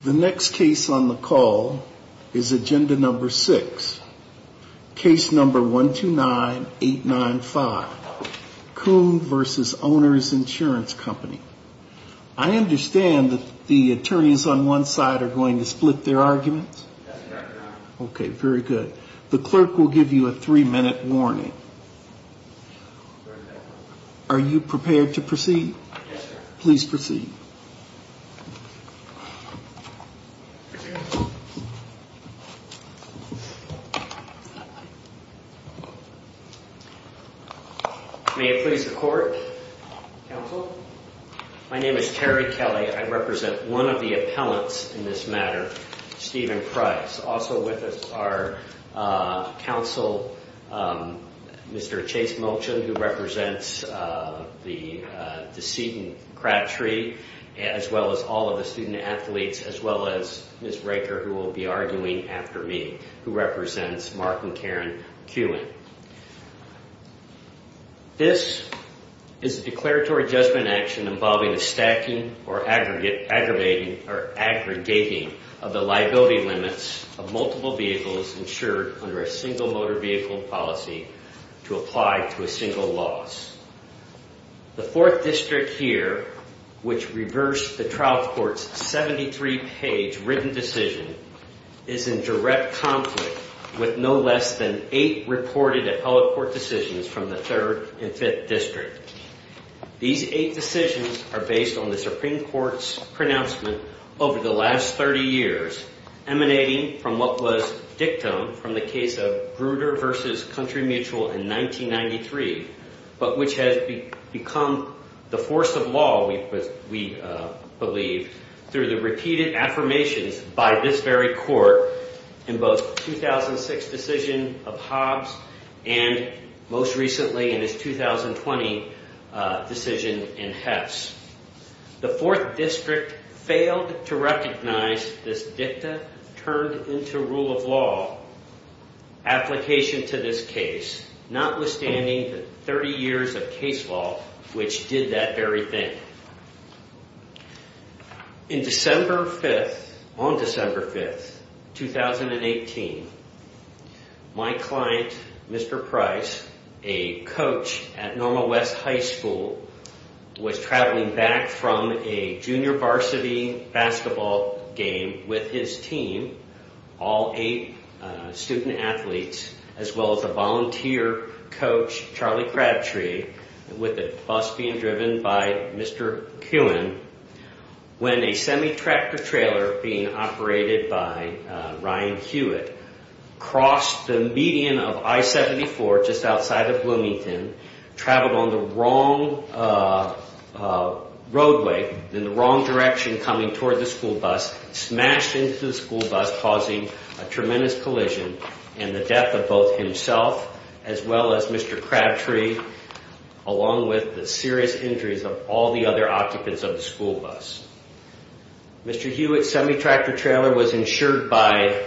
The next case on the call is agenda number six, case number 129-895, Kuhn v. Owners Insurance Company. I understand that the attorneys on one side are going to split their arguments. Okay, very good. The clerk will give you a three minute warning. Are you prepared to proceed? Please proceed. May it please the court, counsel. My name is Terry Kelly. I represent one of the appellants in this matter, Stephen Price. Also with us are counsel Mr. Chase Mulchin, who represents the deceit and crap tree, as well as all of the student athletes, as well as Ms. Raker, who will be arguing after me, who represents Mark and Karen Kuhn. This is a declaratory judgment action involving the stacking or aggregating of the liability limits of multiple vehicles insured under a single motor vehicle policy to apply to a single loss. The fourth district here, which reversed the trial court's 73 page written decision, is in direct conflict with no less than eight reported appellate court decisions from the third and fifth district. These eight decisions are based on the Supreme Court's pronouncement over the last 30 years, emanating from what was dictum from the case of Grutter versus Country Mutual in 1993, but which has become the force of law, we believe, through the repeated affirmations by this very court in both 2006 decision of Hobbs and most recently in his 2020 decision in Hefts. The fourth district failed to recognize this dictum turned into rule of law application to this case, notwithstanding the 30 years of case law, which did that very thing. In December 5th, on December 5th, 2018, my client, Mr. Price, a coach at Normal West High School, was traveling back from a junior varsity basketball game with his team, all eight student athletes, as well as a volunteer coach, Charlie Crabtree, with a bus being driven by Mr. Kuhn, when a semi-tractor trailer being operated by Ryan Hewitt crossed the median of I-74 just outside of Bloomington, traveled on the wrong roadway in the wrong direction coming toward the school bus, smashed into the school bus, causing a tremendous collision and the death of both himself, as well as Mr. Crabtree, along with the serious injuries of all the other occupants of the school bus. Mr. Hewitt's semi-tractor trailer was insured by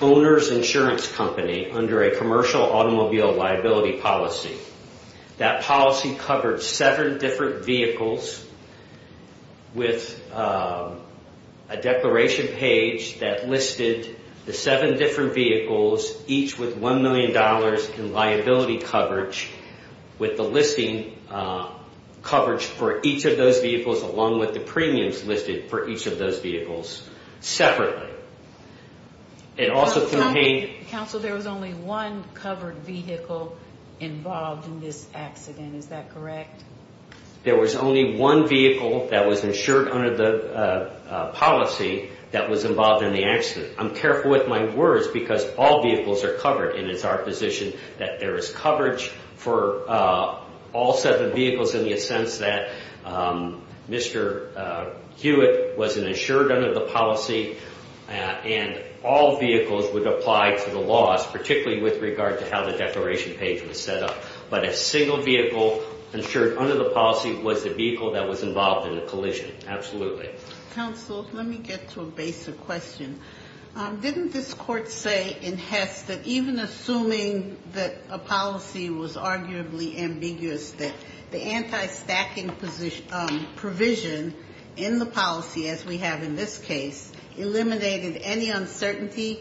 Owner's Insurance Company under a commercial automobile liability policy. That policy covered seven different vehicles with a declaration page that listed the seven different vehicles, each with $1 million in liability coverage, with the listing coverage for each of those vehicles, along with the premiums listed for each of those vehicles, separately. Counsel, there was only one covered vehicle involved in this accident, is that correct? There was only one vehicle that was insured under the policy that was involved in the accident. I'm careful with my words because all vehicles are covered and it's our position that there is coverage for all seven vehicles in the sense that Mr. Hewitt was insured under the policy and all vehicles would apply to the laws, particularly with regard to how the declaration page was set up. But a single vehicle insured under the policy was the vehicle that was involved in the collision, absolutely. Counsel, let me get to a basic question. Didn't this Court say in Hess that even assuming that a policy was arguably ambiguous, that the anti-stacking provision in the policy, as we have in this case, eliminated any uncertainty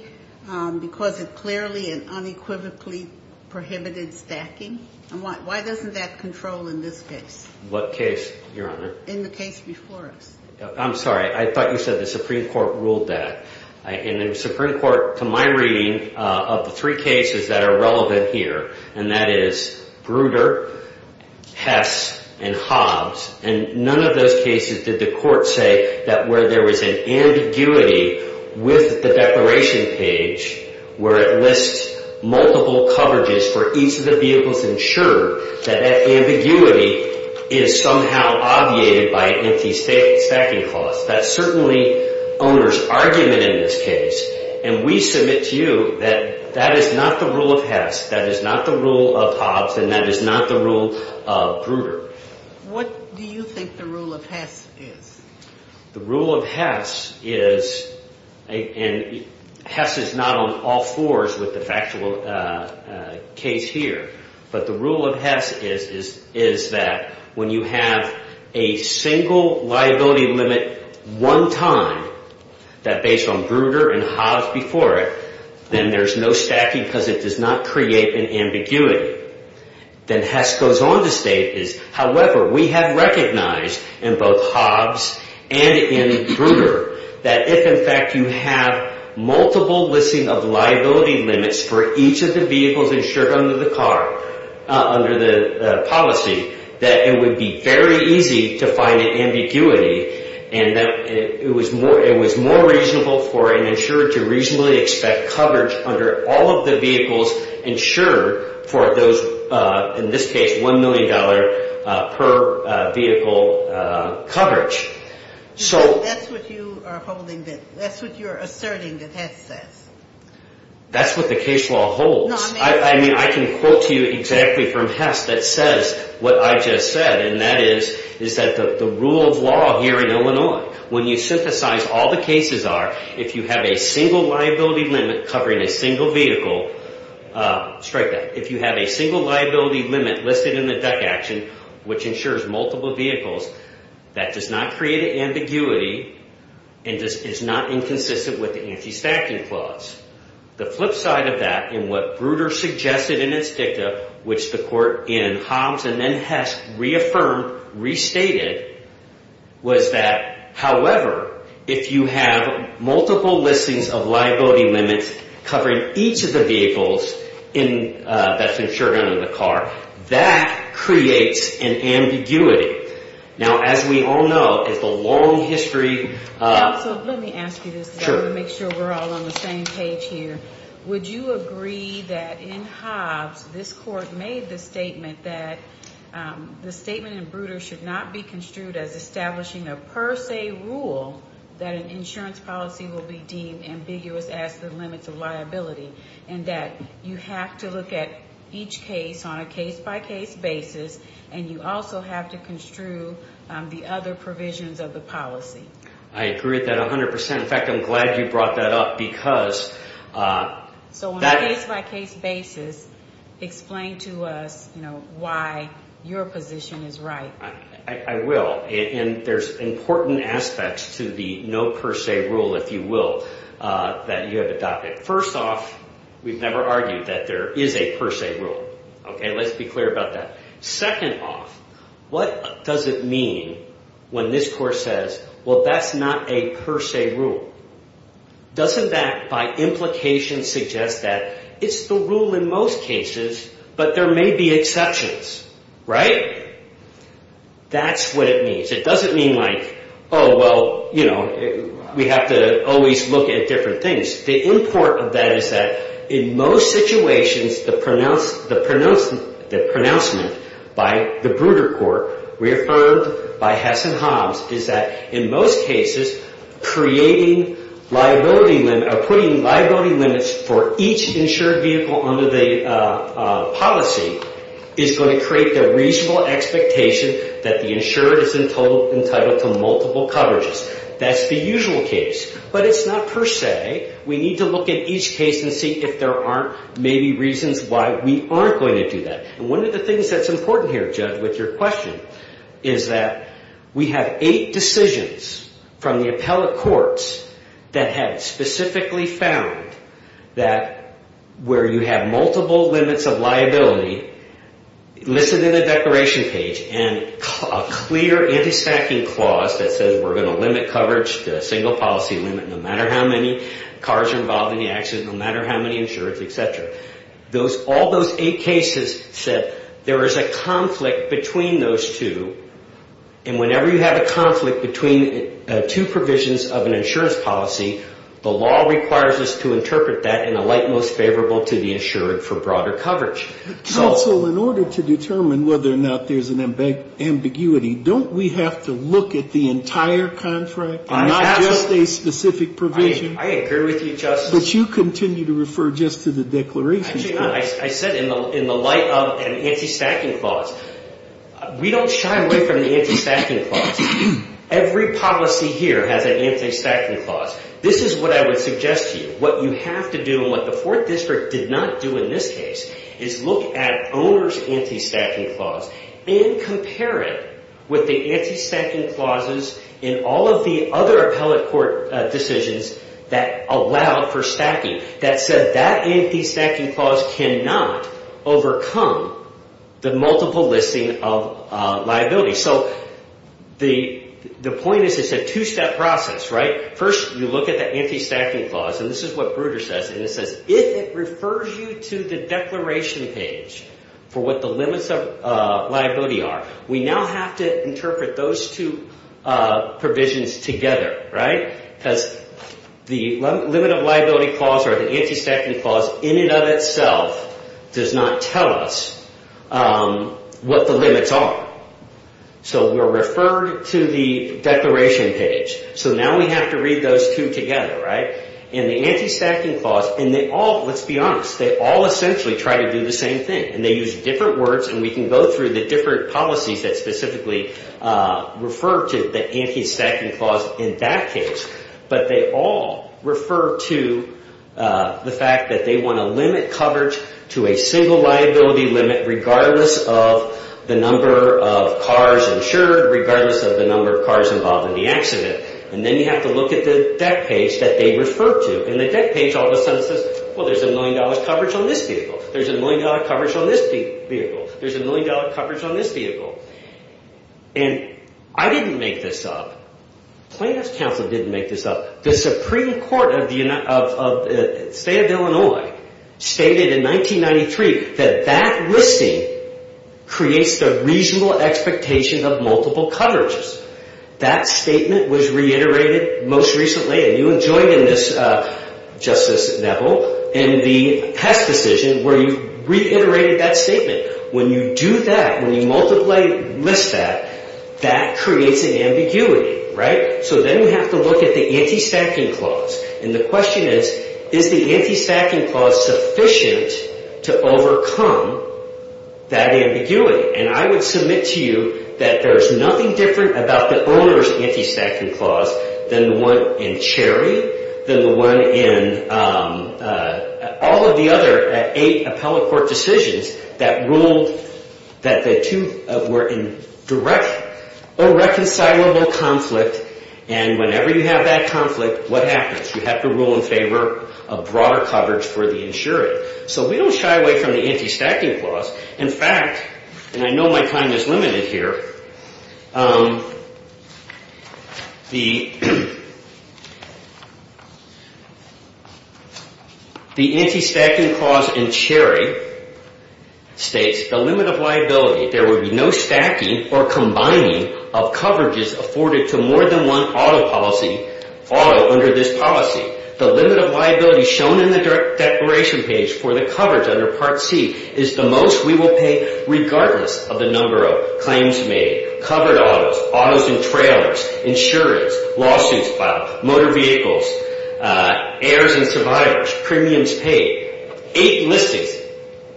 because it clearly and unequivocally prohibited stacking? Why doesn't that control in this case? What case, Your Honor? In the case before us. I'm sorry, I thought you said the Supreme Court ruled that. In the Supreme Court, to my reading, of the three cases that are relevant here, and that is Bruder, Hess, and Hobbs, and none of those cases did the Court say that where there was an ambiguity with the declaration page where it lists multiple coverages for each of the vehicles insured, that that ambiguity is somehow obviated by an anti-stacking clause. That's certainly owner's argument in this case, and we submit to you that that is not the rule of Hess, that is not the rule of Hobbs, and that is not the rule of Bruder. What do you think the rule of Hess is? The rule of Hess is, and Hess is not on all fours with the factual case here, but the rule of Hess is that when you have a single liability limit one time, that based on Bruder and Hobbs before it, then there's no stacking because it does not create an ambiguity. Then Hess goes on to state, however, we have recognized in both Hobbs and in Bruder that if in fact you have multiple listing of liability limits for each of the vehicles insured under the car, under the policy, that it would be very easy to find an ambiguity, and that it was more reasonable for an insurer to reasonably expect coverage under all of the vehicles insured for those, in this case, $1 million per vehicle coverage. So that's what you are holding, that's what you're asserting that Hess says. That's what the case law holds. I mean, I can quote to you exactly from Hess that says what I just said, and that is, is that the rule of law here in Illinois, when you synthesize all the cases are, if you have a single liability limit covering a single vehicle, strike that, if you have a single liability limit listed in the deck action, which insures multiple vehicles, that does not create an ambiguity, and is not inconsistent with the anti-stacking clause. The flip side of that, and what Bruder suggested in its dicta, which the court in Hobbs and then Hess reaffirmed, restated, was that, however, if you have multiple listings of liability limits covering each of the vehicles that's insured under the car, that creates an ambiguity. Now, as we all know, it's a long history of... Also, let me ask you this, to make sure we're all on the same page here. Would you agree that in Hobbs, this court made the statement that the statement in Bruder should not be construed as establishing a per se rule that an insurance policy will be deemed ambiguous as the limits of liability, and that you have to look at each case on a case-by-case basis, and you also have to construe the other provisions of the policy? I agree with that 100%. In fact, I'm glad you brought that up because... So, on a case-by-case basis, explain to us, you know, why your position is right. I will, and there's important aspects to the no per se rule, if you will, that you have adopted. First off, we've never argued that there is a per se rule, okay? Let's be clear about that. Second off, what does it mean when this court says, well, that's not a per se rule? Doesn't that, by implication, suggest that it's the rule in most cases, but there may be exceptions, right? That's what it means. It doesn't mean like, oh, well, you know, we have to always look at different things. The import of that is that, in most situations, the pronouncement by the Bruder Court, reaffirmed by Hess and Hobbs, is that, in most cases, creating liability limits, or putting liability limits for each insured vehicle under the policy is going to create the reasonable expectation that the insured is entitled to multiple coverages. That's the usual case. But it's not per se. We need to look at each case and see if there aren't maybe reasons why we aren't going to do that. And one of the things that's important here, Judge, with your question, is that we have eight decisions from the appellate courts that have specifically found that where you have multiple limits of liability, listed in the declaration page, and a clear anti-stacking clause that says we're going to limit coverage to a single policy limit no matter how many cars are involved in the accident, no matter how many insureds, et cetera, all those eight cases said there is a conflict between those two. And whenever you have a conflict between two provisions of an insurance policy, the law requires us to interpret that in a light most favorable to the insured for broader coverage. Counsel, in order to determine whether or not there's an ambiguity, don't we have to look at the entire contract and not just a specific provision? I agree with you, Justice. But you continue to refer just to the declaration. Actually, I said in the light of an anti-stacking clause. We don't shy away from the anti-stacking clause. Every policy here has an anti-stacking clause. This is what I would suggest to you. What you have to do and what the Fourth District did not do in this case is look at owner's anti-stacking clause and compare it with the anti-stacking clauses in all of the other appellate court decisions that allowed for stacking that said that anti-stacking clause cannot overcome the multiple listing of liability. So the point is it's a two-step process, right? First, you look at the anti-stacking clause. And this is what Bruder says. And it says if it refers you to the declaration page for what the limits of liability are, we now have to interpret those two provisions together, right? Because the limit of liability clause or the anti-stacking clause in and of itself does not tell us what the limits are. So we're referred to the declaration page. So now we have to read those two together, right? And the anti-stacking clause, and they all, let's be honest, they all essentially try to do the same thing. And they use different words. And we can go through the different policies that specifically refer to the anti-stacking clause in that case. But they all refer to the fact that they want to limit coverage to a single liability limit regardless of the number of cars insured, regardless of the number of cars involved in the accident. And then you have to look at the deck page that they refer to. And the deck page all of a sudden says, well, there's a million-dollar coverage on this vehicle. There's a million-dollar coverage on this vehicle. There's a million-dollar coverage on this vehicle. And I didn't make this up. Plaintiff's counsel didn't make this up. The Supreme Court of the State of Illinois stated in 1993 that that listing creates the reasonable expectation of multiple coverages. That statement was reiterated most recently. And you enjoyed in this, Justice Neville, in the Hess decision where you reiterated that statement. When you do that, when you multiply, list that, that creates an ambiguity, right? So then you have to look at the anti-stacking clause. And the question is, is the anti-stacking clause sufficient to overcome that ambiguity? And I would submit to you that there's nothing different about the owner's anti-stacking clause than the one in Cherry, than the one in all of the other eight appellate court decisions that ruled that the two were in direct or reconcilable conflict. And whenever you have that conflict, what happens? You have to rule in favor of broader coverage for the insured. So we don't shy away from the anti-stacking clause. In fact, and I know my time is limited here, the anti-stacking clause in Cherry states, the limit of liability, there would be no stacking or combining of coverages afforded to more than one auto policy, auto under this policy. The limit of liability shown in the declaration page for the coverage under Part C is the most we will pay regardless of the number of claims made, covered autos, autos and trailers, insurance, lawsuits filed, motor vehicles, heirs and survivors, premiums paid. Eight listings,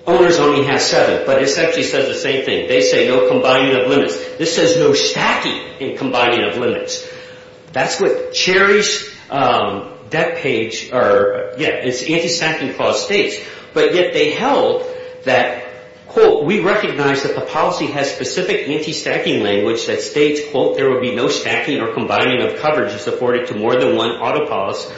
owners only have seven, but this actually says the same thing. They say no combining of limits. This says no stacking and combining of limits. That's what Cherry's debt page, or yeah, its anti-stacking clause states. But yet they held that, quote, we recognize that the policy has specific anti-stacking language that states, quote, there would be no stacking or combining of coverages afforded to more than one auto policy,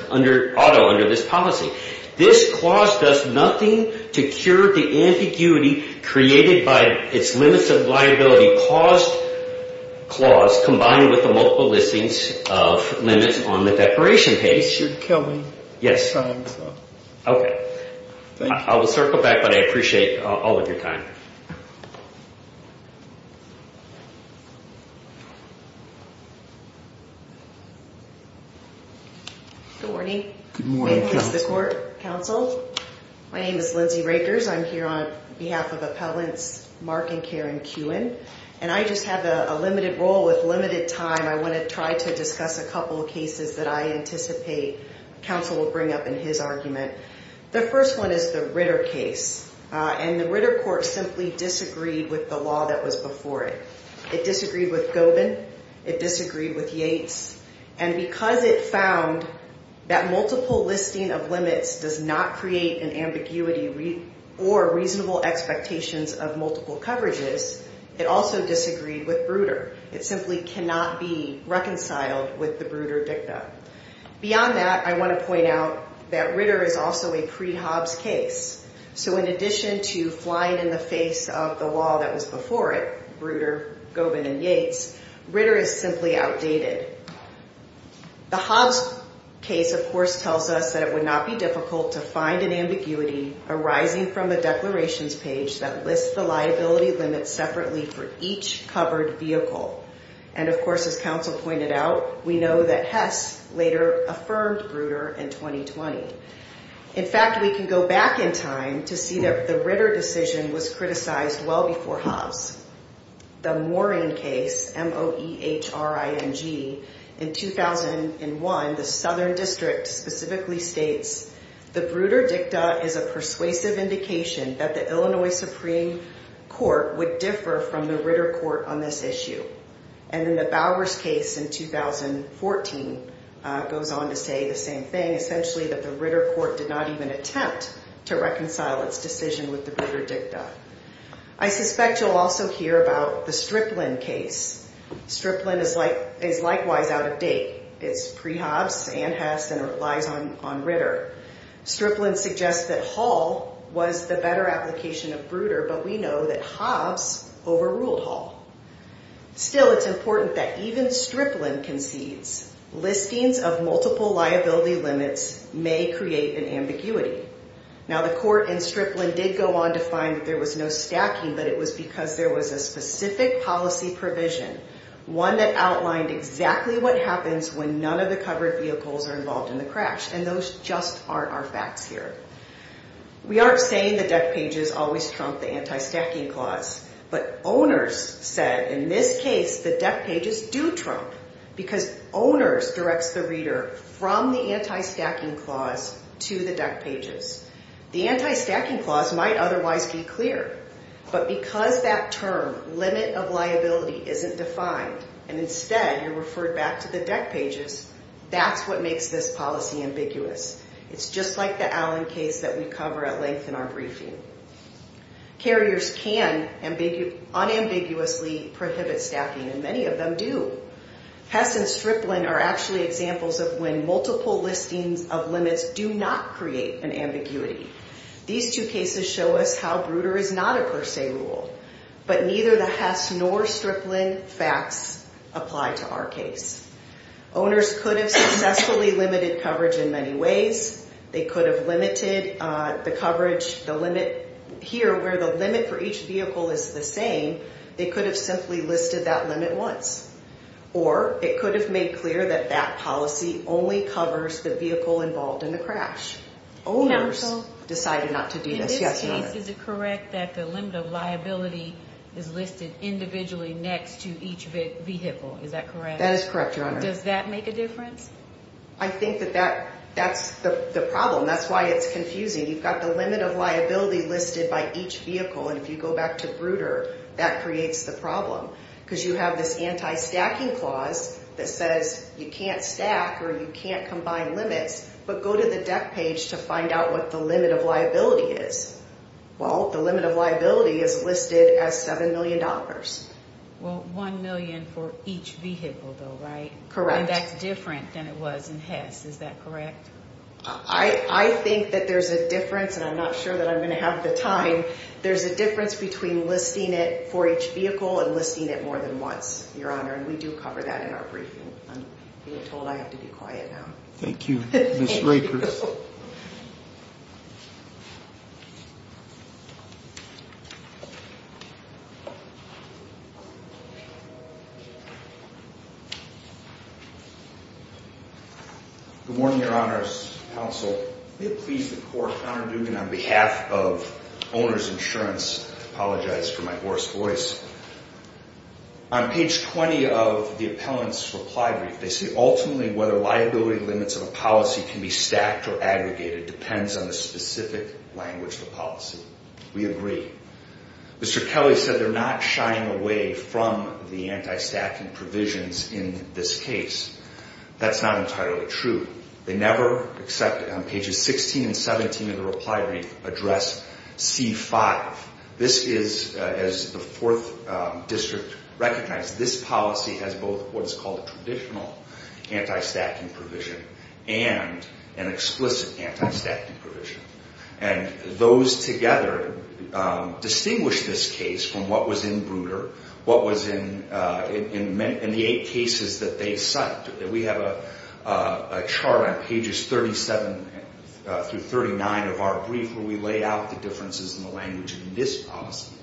auto under this policy. This clause does nothing to cure the ambiguity created by its limits of liability clause, combined with the multiple listings of limits on the declaration page. This should kill me. Yes. Okay. I will circle back, but I appreciate all of your time. Good morning. Good morning, counsel. My name is Lindsay Rakers. I'm here on behalf of Appellants Mark and Karen Kuhn, and I just have a limited role with limited time. I want to try to discuss a couple of cases that I anticipate counsel will bring up in his argument. The first one is the Ritter case, and the Ritter court simply disagreed with the law that was before it. It disagreed with Gobin. It disagreed with Yates. And because it found that multiple listing of limits does not create an ambiguity or reasonable expectations of multiple coverages, it also disagreed with Bruder. It simply cannot be reconciled with the Bruder dicta. Beyond that, I want to point out that Ritter is also a pre-Hobbs case. So in addition to flying in the face of the law that was before it, Bruder, Gobin, and Yates, Ritter is simply outdated. The Hobbs case, of course, tells us that it would not be difficult to find an ambiguity arising from the declarations page that lists the liability limits separately for each covered vehicle. And of course, as counsel pointed out, we know that Hess later affirmed Bruder in 2020. In fact, we can go back in time to see that the Ritter decision was criticized well before Hobbs. The Morine case, M-O-E-H-R-I-N-G, in 2001, the Southern District specifically states, the Bruder dicta is a persuasive indication that the Illinois Supreme Court would differ from the Ritter court on this issue. And in the Bowers case in 2014, it goes on to say the same thing, essentially that the Ritter court did not even attempt to reconcile its decision with the Bruder dicta. I suspect you'll also hear about the Striplin case. Striplin is likewise out of date. It's pre-Hobbs, and Hess, and it relies on Ritter. Striplin suggests that Hall was the better application of Bruder, but we know that Hobbs overruled Hall. Still, it's important that even Striplin concedes listings of multiple liability limits may create an ambiguity. Now, the court in Striplin did go on to find that there was no stacking, but it was because there was a specific policy provision, one that outlined exactly what happens when none of the covered vehicles are involved in the crash, and those just aren't our facts here. We aren't saying the deck pages always trump the anti-stacking clause, but Owners said in this case the deck pages do trump because Owners directs the Ritter from the anti-stacking clause to the deck pages. The anti-stacking clause might otherwise be clear, but because that term, limit of liability, isn't defined, and instead you're referred back to the deck pages, that's what makes this policy ambiguous. It's just like the Allen case that we cover at length in our briefing. Carriers can unambiguously prohibit stacking, and many of them do. Hess and Striplin are actually examples of when multiple listings of limits do not create an ambiguity. These two cases show us how Bruder is not a per se rule, but neither the Hess nor Striplin facts apply to our case. Owners could have successfully limited coverage in many ways. They could have limited the coverage, the limit here where the limit for each vehicle is the same. They could have simply listed that limit once. Or it could have made clear that that policy only covers the vehicle involved in the crash. Owners decided not to do this. Yes, Your Honor. In this case, is it correct that the limit of liability is listed individually next to each vehicle? Is that correct? That is correct, Your Honor. Does that make a difference? I think that that's the problem. That's why it's confusing. You've got the limit of liability listed by each vehicle, and if you go back to Bruder, that creates the problem. Because you have this anti-stacking clause that says you can't stack or you can't combine limits, but go to the deck page to find out what the limit of liability is. Well, the limit of liability is listed as $7 million. Well, $1 million for each vehicle, though, right? That's different than it was in Hess. Is that correct? I think that there's a difference, and I'm not sure that I'm going to have the time. There's a difference between listing it for each vehicle and listing it more than once, Your Honor, and we do cover that in our briefing. I'm being told I have to be quiet now. Thank you, Ms. Rakers. Good morning, Your Honor's counsel. May it please the Court, Honor Dugan, on behalf of Owner's Insurance, I apologize for my hoarse voice. On page 20 of the appellant's reply brief, they say, ultimately, whether liability limits of a policy can be stacked or aggregated depends on the specific language of the policy. We agree. Mr. Kelly said they're not sharing the policy. They're not shying away from the anti-stacking provisions in this case. That's not entirely true. They never, except on pages 16 and 17 of the reply brief, address C-5. This is, as the Fourth District recognized, this policy has both what's called a traditional anti-stacking provision and an explicit anti-stacking provision. And those together distinguish this case from what was in Bruder, what was in the eight cases that they cite. We have a chart on pages 37 through 39 of our brief where we lay out the differences in the language in this policy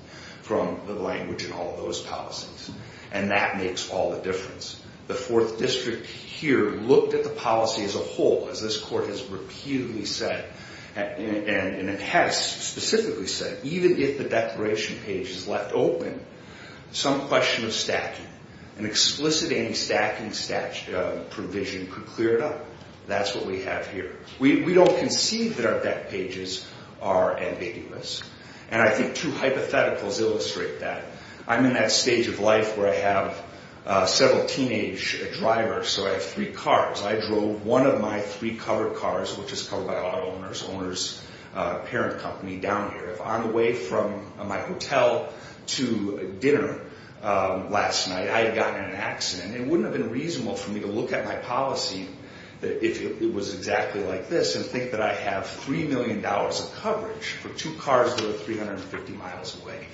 from the language in all those policies. And that makes all the difference. The Fourth District here looked at the policy as a whole, as this Court has reputedly said, and it has specifically said, even if the declaration page is left open, some question of stacking, an explicit anti-stacking provision could clear it up. That's what we have here. We don't concede that our deck pages are ambiguous. And I think two hypotheticals illustrate that. I'm in that stage of life where I have several teenage drivers, so I have three cars. I drove one of my three covered cars, which is covered by an auto owner's parent company down here. If on the way from my hotel to dinner last night, I had gotten in an accident, it wouldn't have been reasonable for me to look at my policy, if it was exactly like this, and think that I have $3 million of coverage for two cars that are 350 miles away.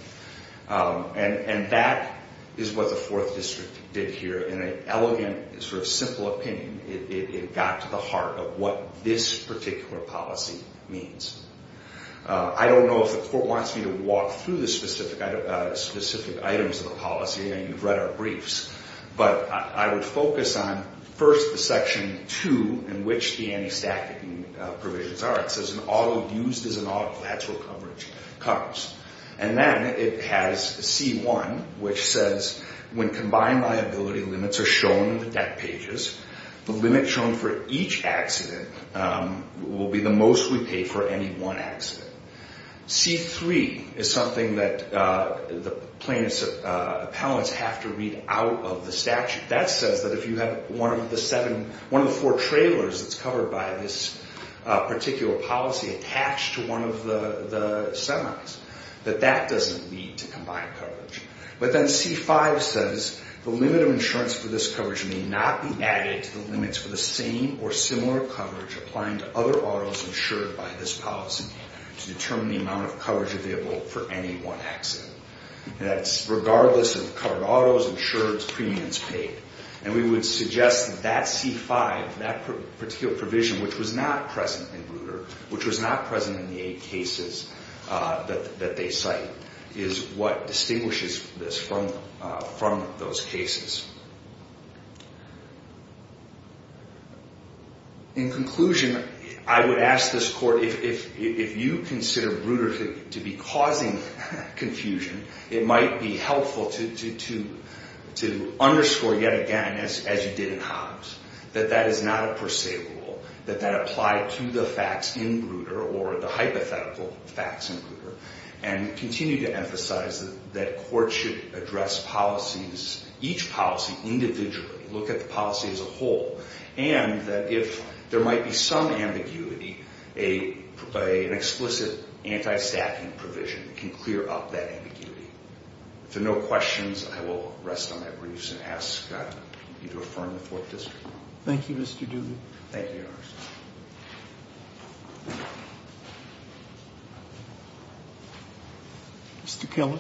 And that is what the Fourth District did here. In an elegant, sort of simple opinion, it got to the heart of what this particular policy means. I don't know if the court wants me to walk through the specific items of the policy, and you've read our briefs, but I would focus on first the Section 2, in which the anti-stacking provisions are. It says, used as an auto, that's where coverage comes. And then it has C1, which says, when combined liability limits are shown in the deck pages, the limit shown for each accident will be the most we pay for any one accident. C3 is something that the plaintiffs' appellants have to read out of the statute. That says that if you have one of the four trailers that's covered by this particular policy attached to one of the semis, that that doesn't lead to combined coverage. But then C5 says, the limit of insurance for this coverage may not be added to the limits for the same or similar coverage applying to other autos insured by this policy to determine the amount of coverage available for any one accident. That's regardless of covered autos, insureds, premiums paid. And we would suggest that that C5, that particular provision, which was not present in Bruder, which was not present in the eight cases that they cite, is what distinguishes this from those cases. In conclusion, I would ask this Court, if you consider Bruder to be causing confusion, it might be helpful to underscore yet again, as you did in Hobbs, that that is not a per se rule. That that applied to the facts in Bruder, or the hypothetical facts in Bruder. And continue to emphasize that courts should address policies, each policy individually, look at the policy as a whole, and that if there might be some ambiguity, an explicit anti-stacking provision can clear up that ambiguity. If there are no questions, I will rest on my briefs and ask you to affirm the Fourth District. Thank you, Mr. Duggan. Thank you, Your Honor. Mr. Keller.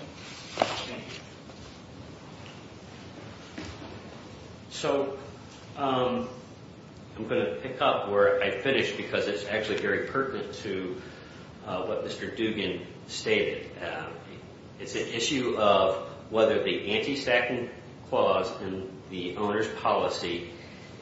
Thank you. So, I'm going to pick up where I finished, because it's actually very pertinent to what Mr. Duggan stated. It's an issue of whether the anti-stacking clause in the owner's policy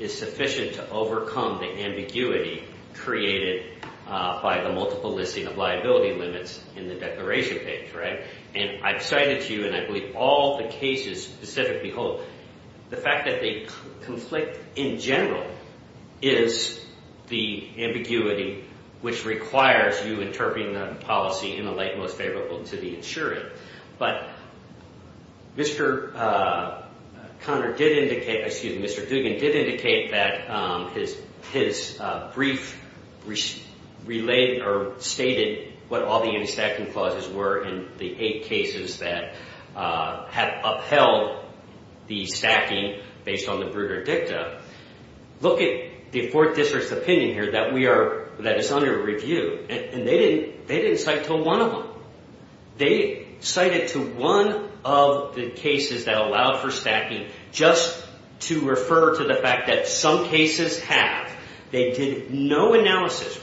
is sufficient to overcome the ambiguity created by the multiple listing of liability limits in the declaration page, right? And I've cited to you, and I believe all the cases specifically hold, the fact that they conflict in general is the ambiguity which requires you interpreting the policy in the light most favorable to the insurer. But Mr. Conner did indicate, excuse me, Mr. Duggan did indicate that his brief relayed or stated what all the anti-stacking clauses were and the eight cases that have upheld the stacking based on the Bruder Dicta. Look at the Fourth District's opinion here that is under review, and they didn't cite to one of them. They cited to one of the cases that allowed for stacking just to refer to the fact that some cases have. They did no analysis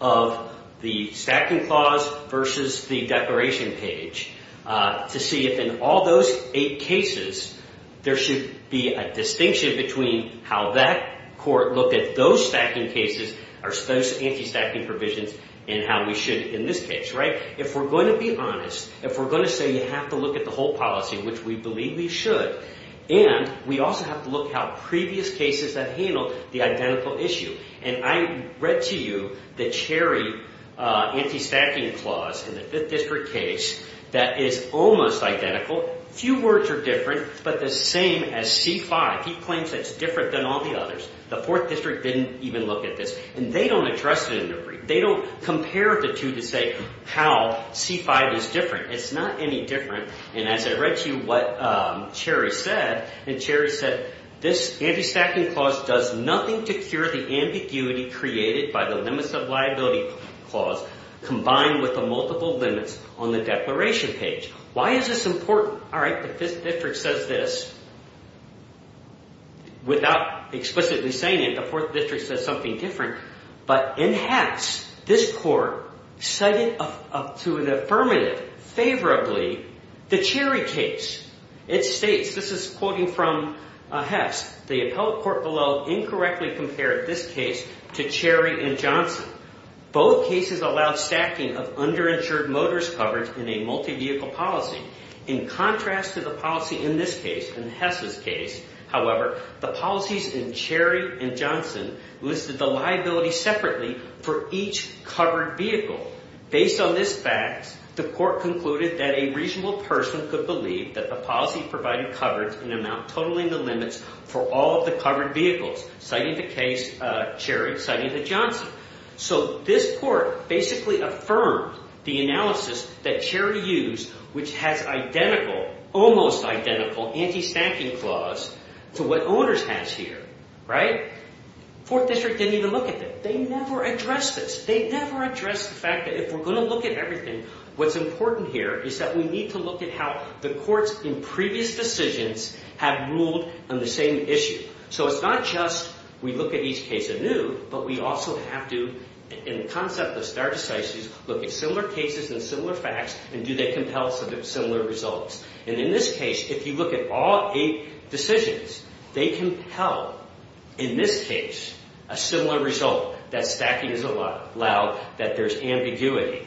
of the stacking clause versus the declaration page to see if in all those eight cases there should be a distinction between how that court looked at those stacking cases or those anti-stacking provisions and how we should in this case, right? If we're going to be honest, if we're going to say you have to look at the whole policy, which we believe we should, and we also have to look at how previous cases have handled the identical issue. And I read to you the Cherry anti-stacking clause in the Fifth District case that is almost identical. Few words are different, but the same as C-5. He claims it's different than all the others. The Fourth District didn't even look at this. And they don't address it in their brief. They don't compare the two to say how C-5 is different. It's not any different. And as I read to you what Cherry said, and Cherry said this anti-stacking clause does nothing to cure the ambiguity created by the limits of liability clause combined with the multiple limits on the declaration page. Why is this important? All right, the Fifth District says this. Without explicitly saying it, the Fourth District says something different. But in Hess, this court cited up to an affirmative favorably the Cherry case. It states, this is quoting from Hess, the appellate court below incorrectly compared this case to Cherry and Johnson. Both cases allowed stacking of underinsured motors coverage in a multi-vehicle policy. In contrast to the policy in this case, in Hess's case, however, the policies in Cherry and Johnson listed the liability separately for each covered vehicle. Based on this fact, the court concluded that a reasonable person could believe that the policy provided coverage in amount totaling the limits for all of the covered vehicles, citing the case, Cherry citing the Johnson. So this court basically affirmed the analysis that Cherry used, which has identical, almost identical anti-stacking clause to what owners has here, right? Fourth District didn't even look at it. They never addressed this. They never addressed the fact that if we're going to look at everything, what's important here is that we need to look at how the courts in previous decisions have ruled on the same issue. So it's not just we look at each case anew, but we also have to, in the concept of stare decisis, look at similar cases and similar facts and do they compel similar results. And in this case, if you look at all eight decisions, they compel, in this case, a similar result, that stacking is allowed, that there's ambiguity.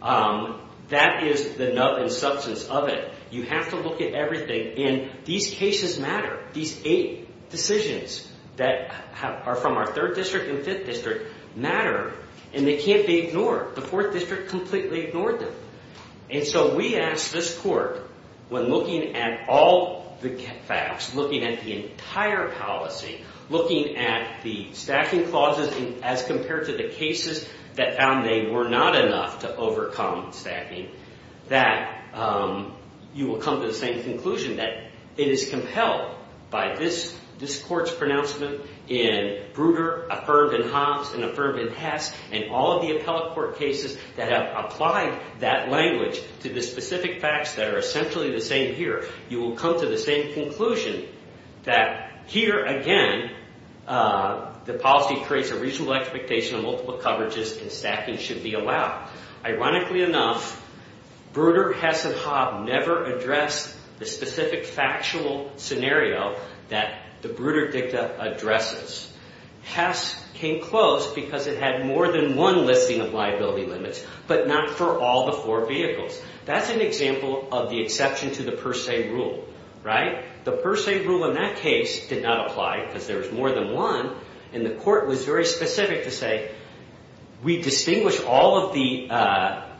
That is the substance of it. You have to look at everything. And these cases matter. These eight decisions that are from our Third District and Fifth District matter. And they can't be ignored. The Fourth District completely ignored them. And so we asked this court, when looking at all the facts, looking at the entire policy, looking at the stacking clauses as compared to the cases that found they were not enough to overcome stacking, that you will come to the same conclusion that it is compelled by this court's pronouncement in Bruder, affirmed in Hobbs, and affirmed in Hess, and all of the appellate court cases that have applied that language to the specific facts that are essentially the same here. You will come to the same conclusion that here, again, the policy creates a reasonable expectation that multiple coverages and stacking should be allowed. Ironically enough, Bruder, Hess, and Hobbs never addressed the specific factual scenario that the Bruder Dicta addresses. Hess came close because it had more than one listing of liability limits, but not for all the four vehicles. That's an example of the exception to the per se rule, right? The per se rule in that case did not apply because there was more than one. And the court was very specific to say, we distinguish all of the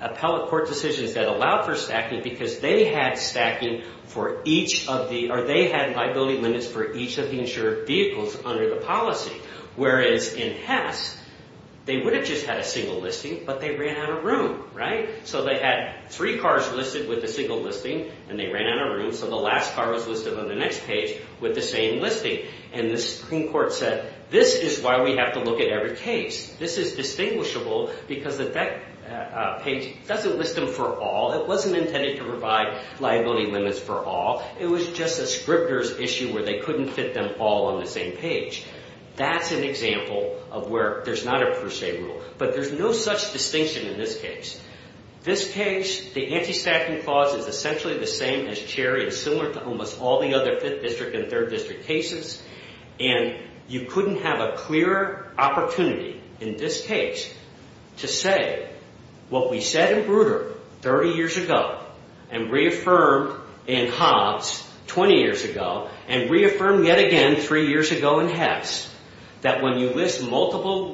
appellate court decisions that allowed for stacking because they had liability limits for each of the insured vehicles under the policy. Whereas in Hess, they would have just had a single listing, but they ran out of room, right? So they had three cars listed with a single listing, and they ran out of room, so the last car was listed on the next page with the same listing. And the Supreme Court said, this is why we have to look at every case. This is distinguishable because that page doesn't list them for all. It wasn't intended to provide liability limits for all. It was just a scripter's issue where they couldn't fit them all on the same page. That's an example of where there's not a per se rule. But there's no such distinction in this case. This case, the anti-stacking clause is essentially the same as Cherry and similar to almost all the other 5th District and 3rd District cases. And you couldn't have a clearer opportunity in this case to say what we said in Bruder 30 years ago and reaffirmed in Hobbs 20 years ago and reaffirmed yet again 3 years ago in Hess that when you list multiple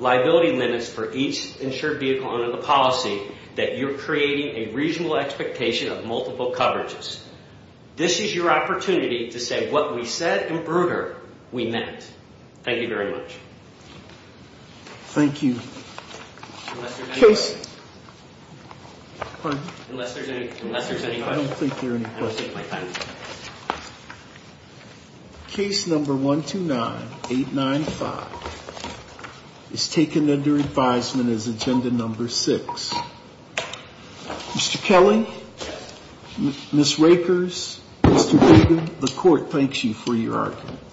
liability limits for each insured vehicle under the policy that you're creating a reasonable expectation of multiple coverages. This is your opportunity to say what we said in Bruder we meant. Thank you very much. Thank you. Unless there's any questions. Pardon? Unless there's any questions. I don't think there are any questions. I don't think there are any questions. Case number 129-895 is taken under advisement as agenda number 6. Mr. Kelly? Yes. Mr. Akers? Mr. Kagan? The Court thanks you for your arguments.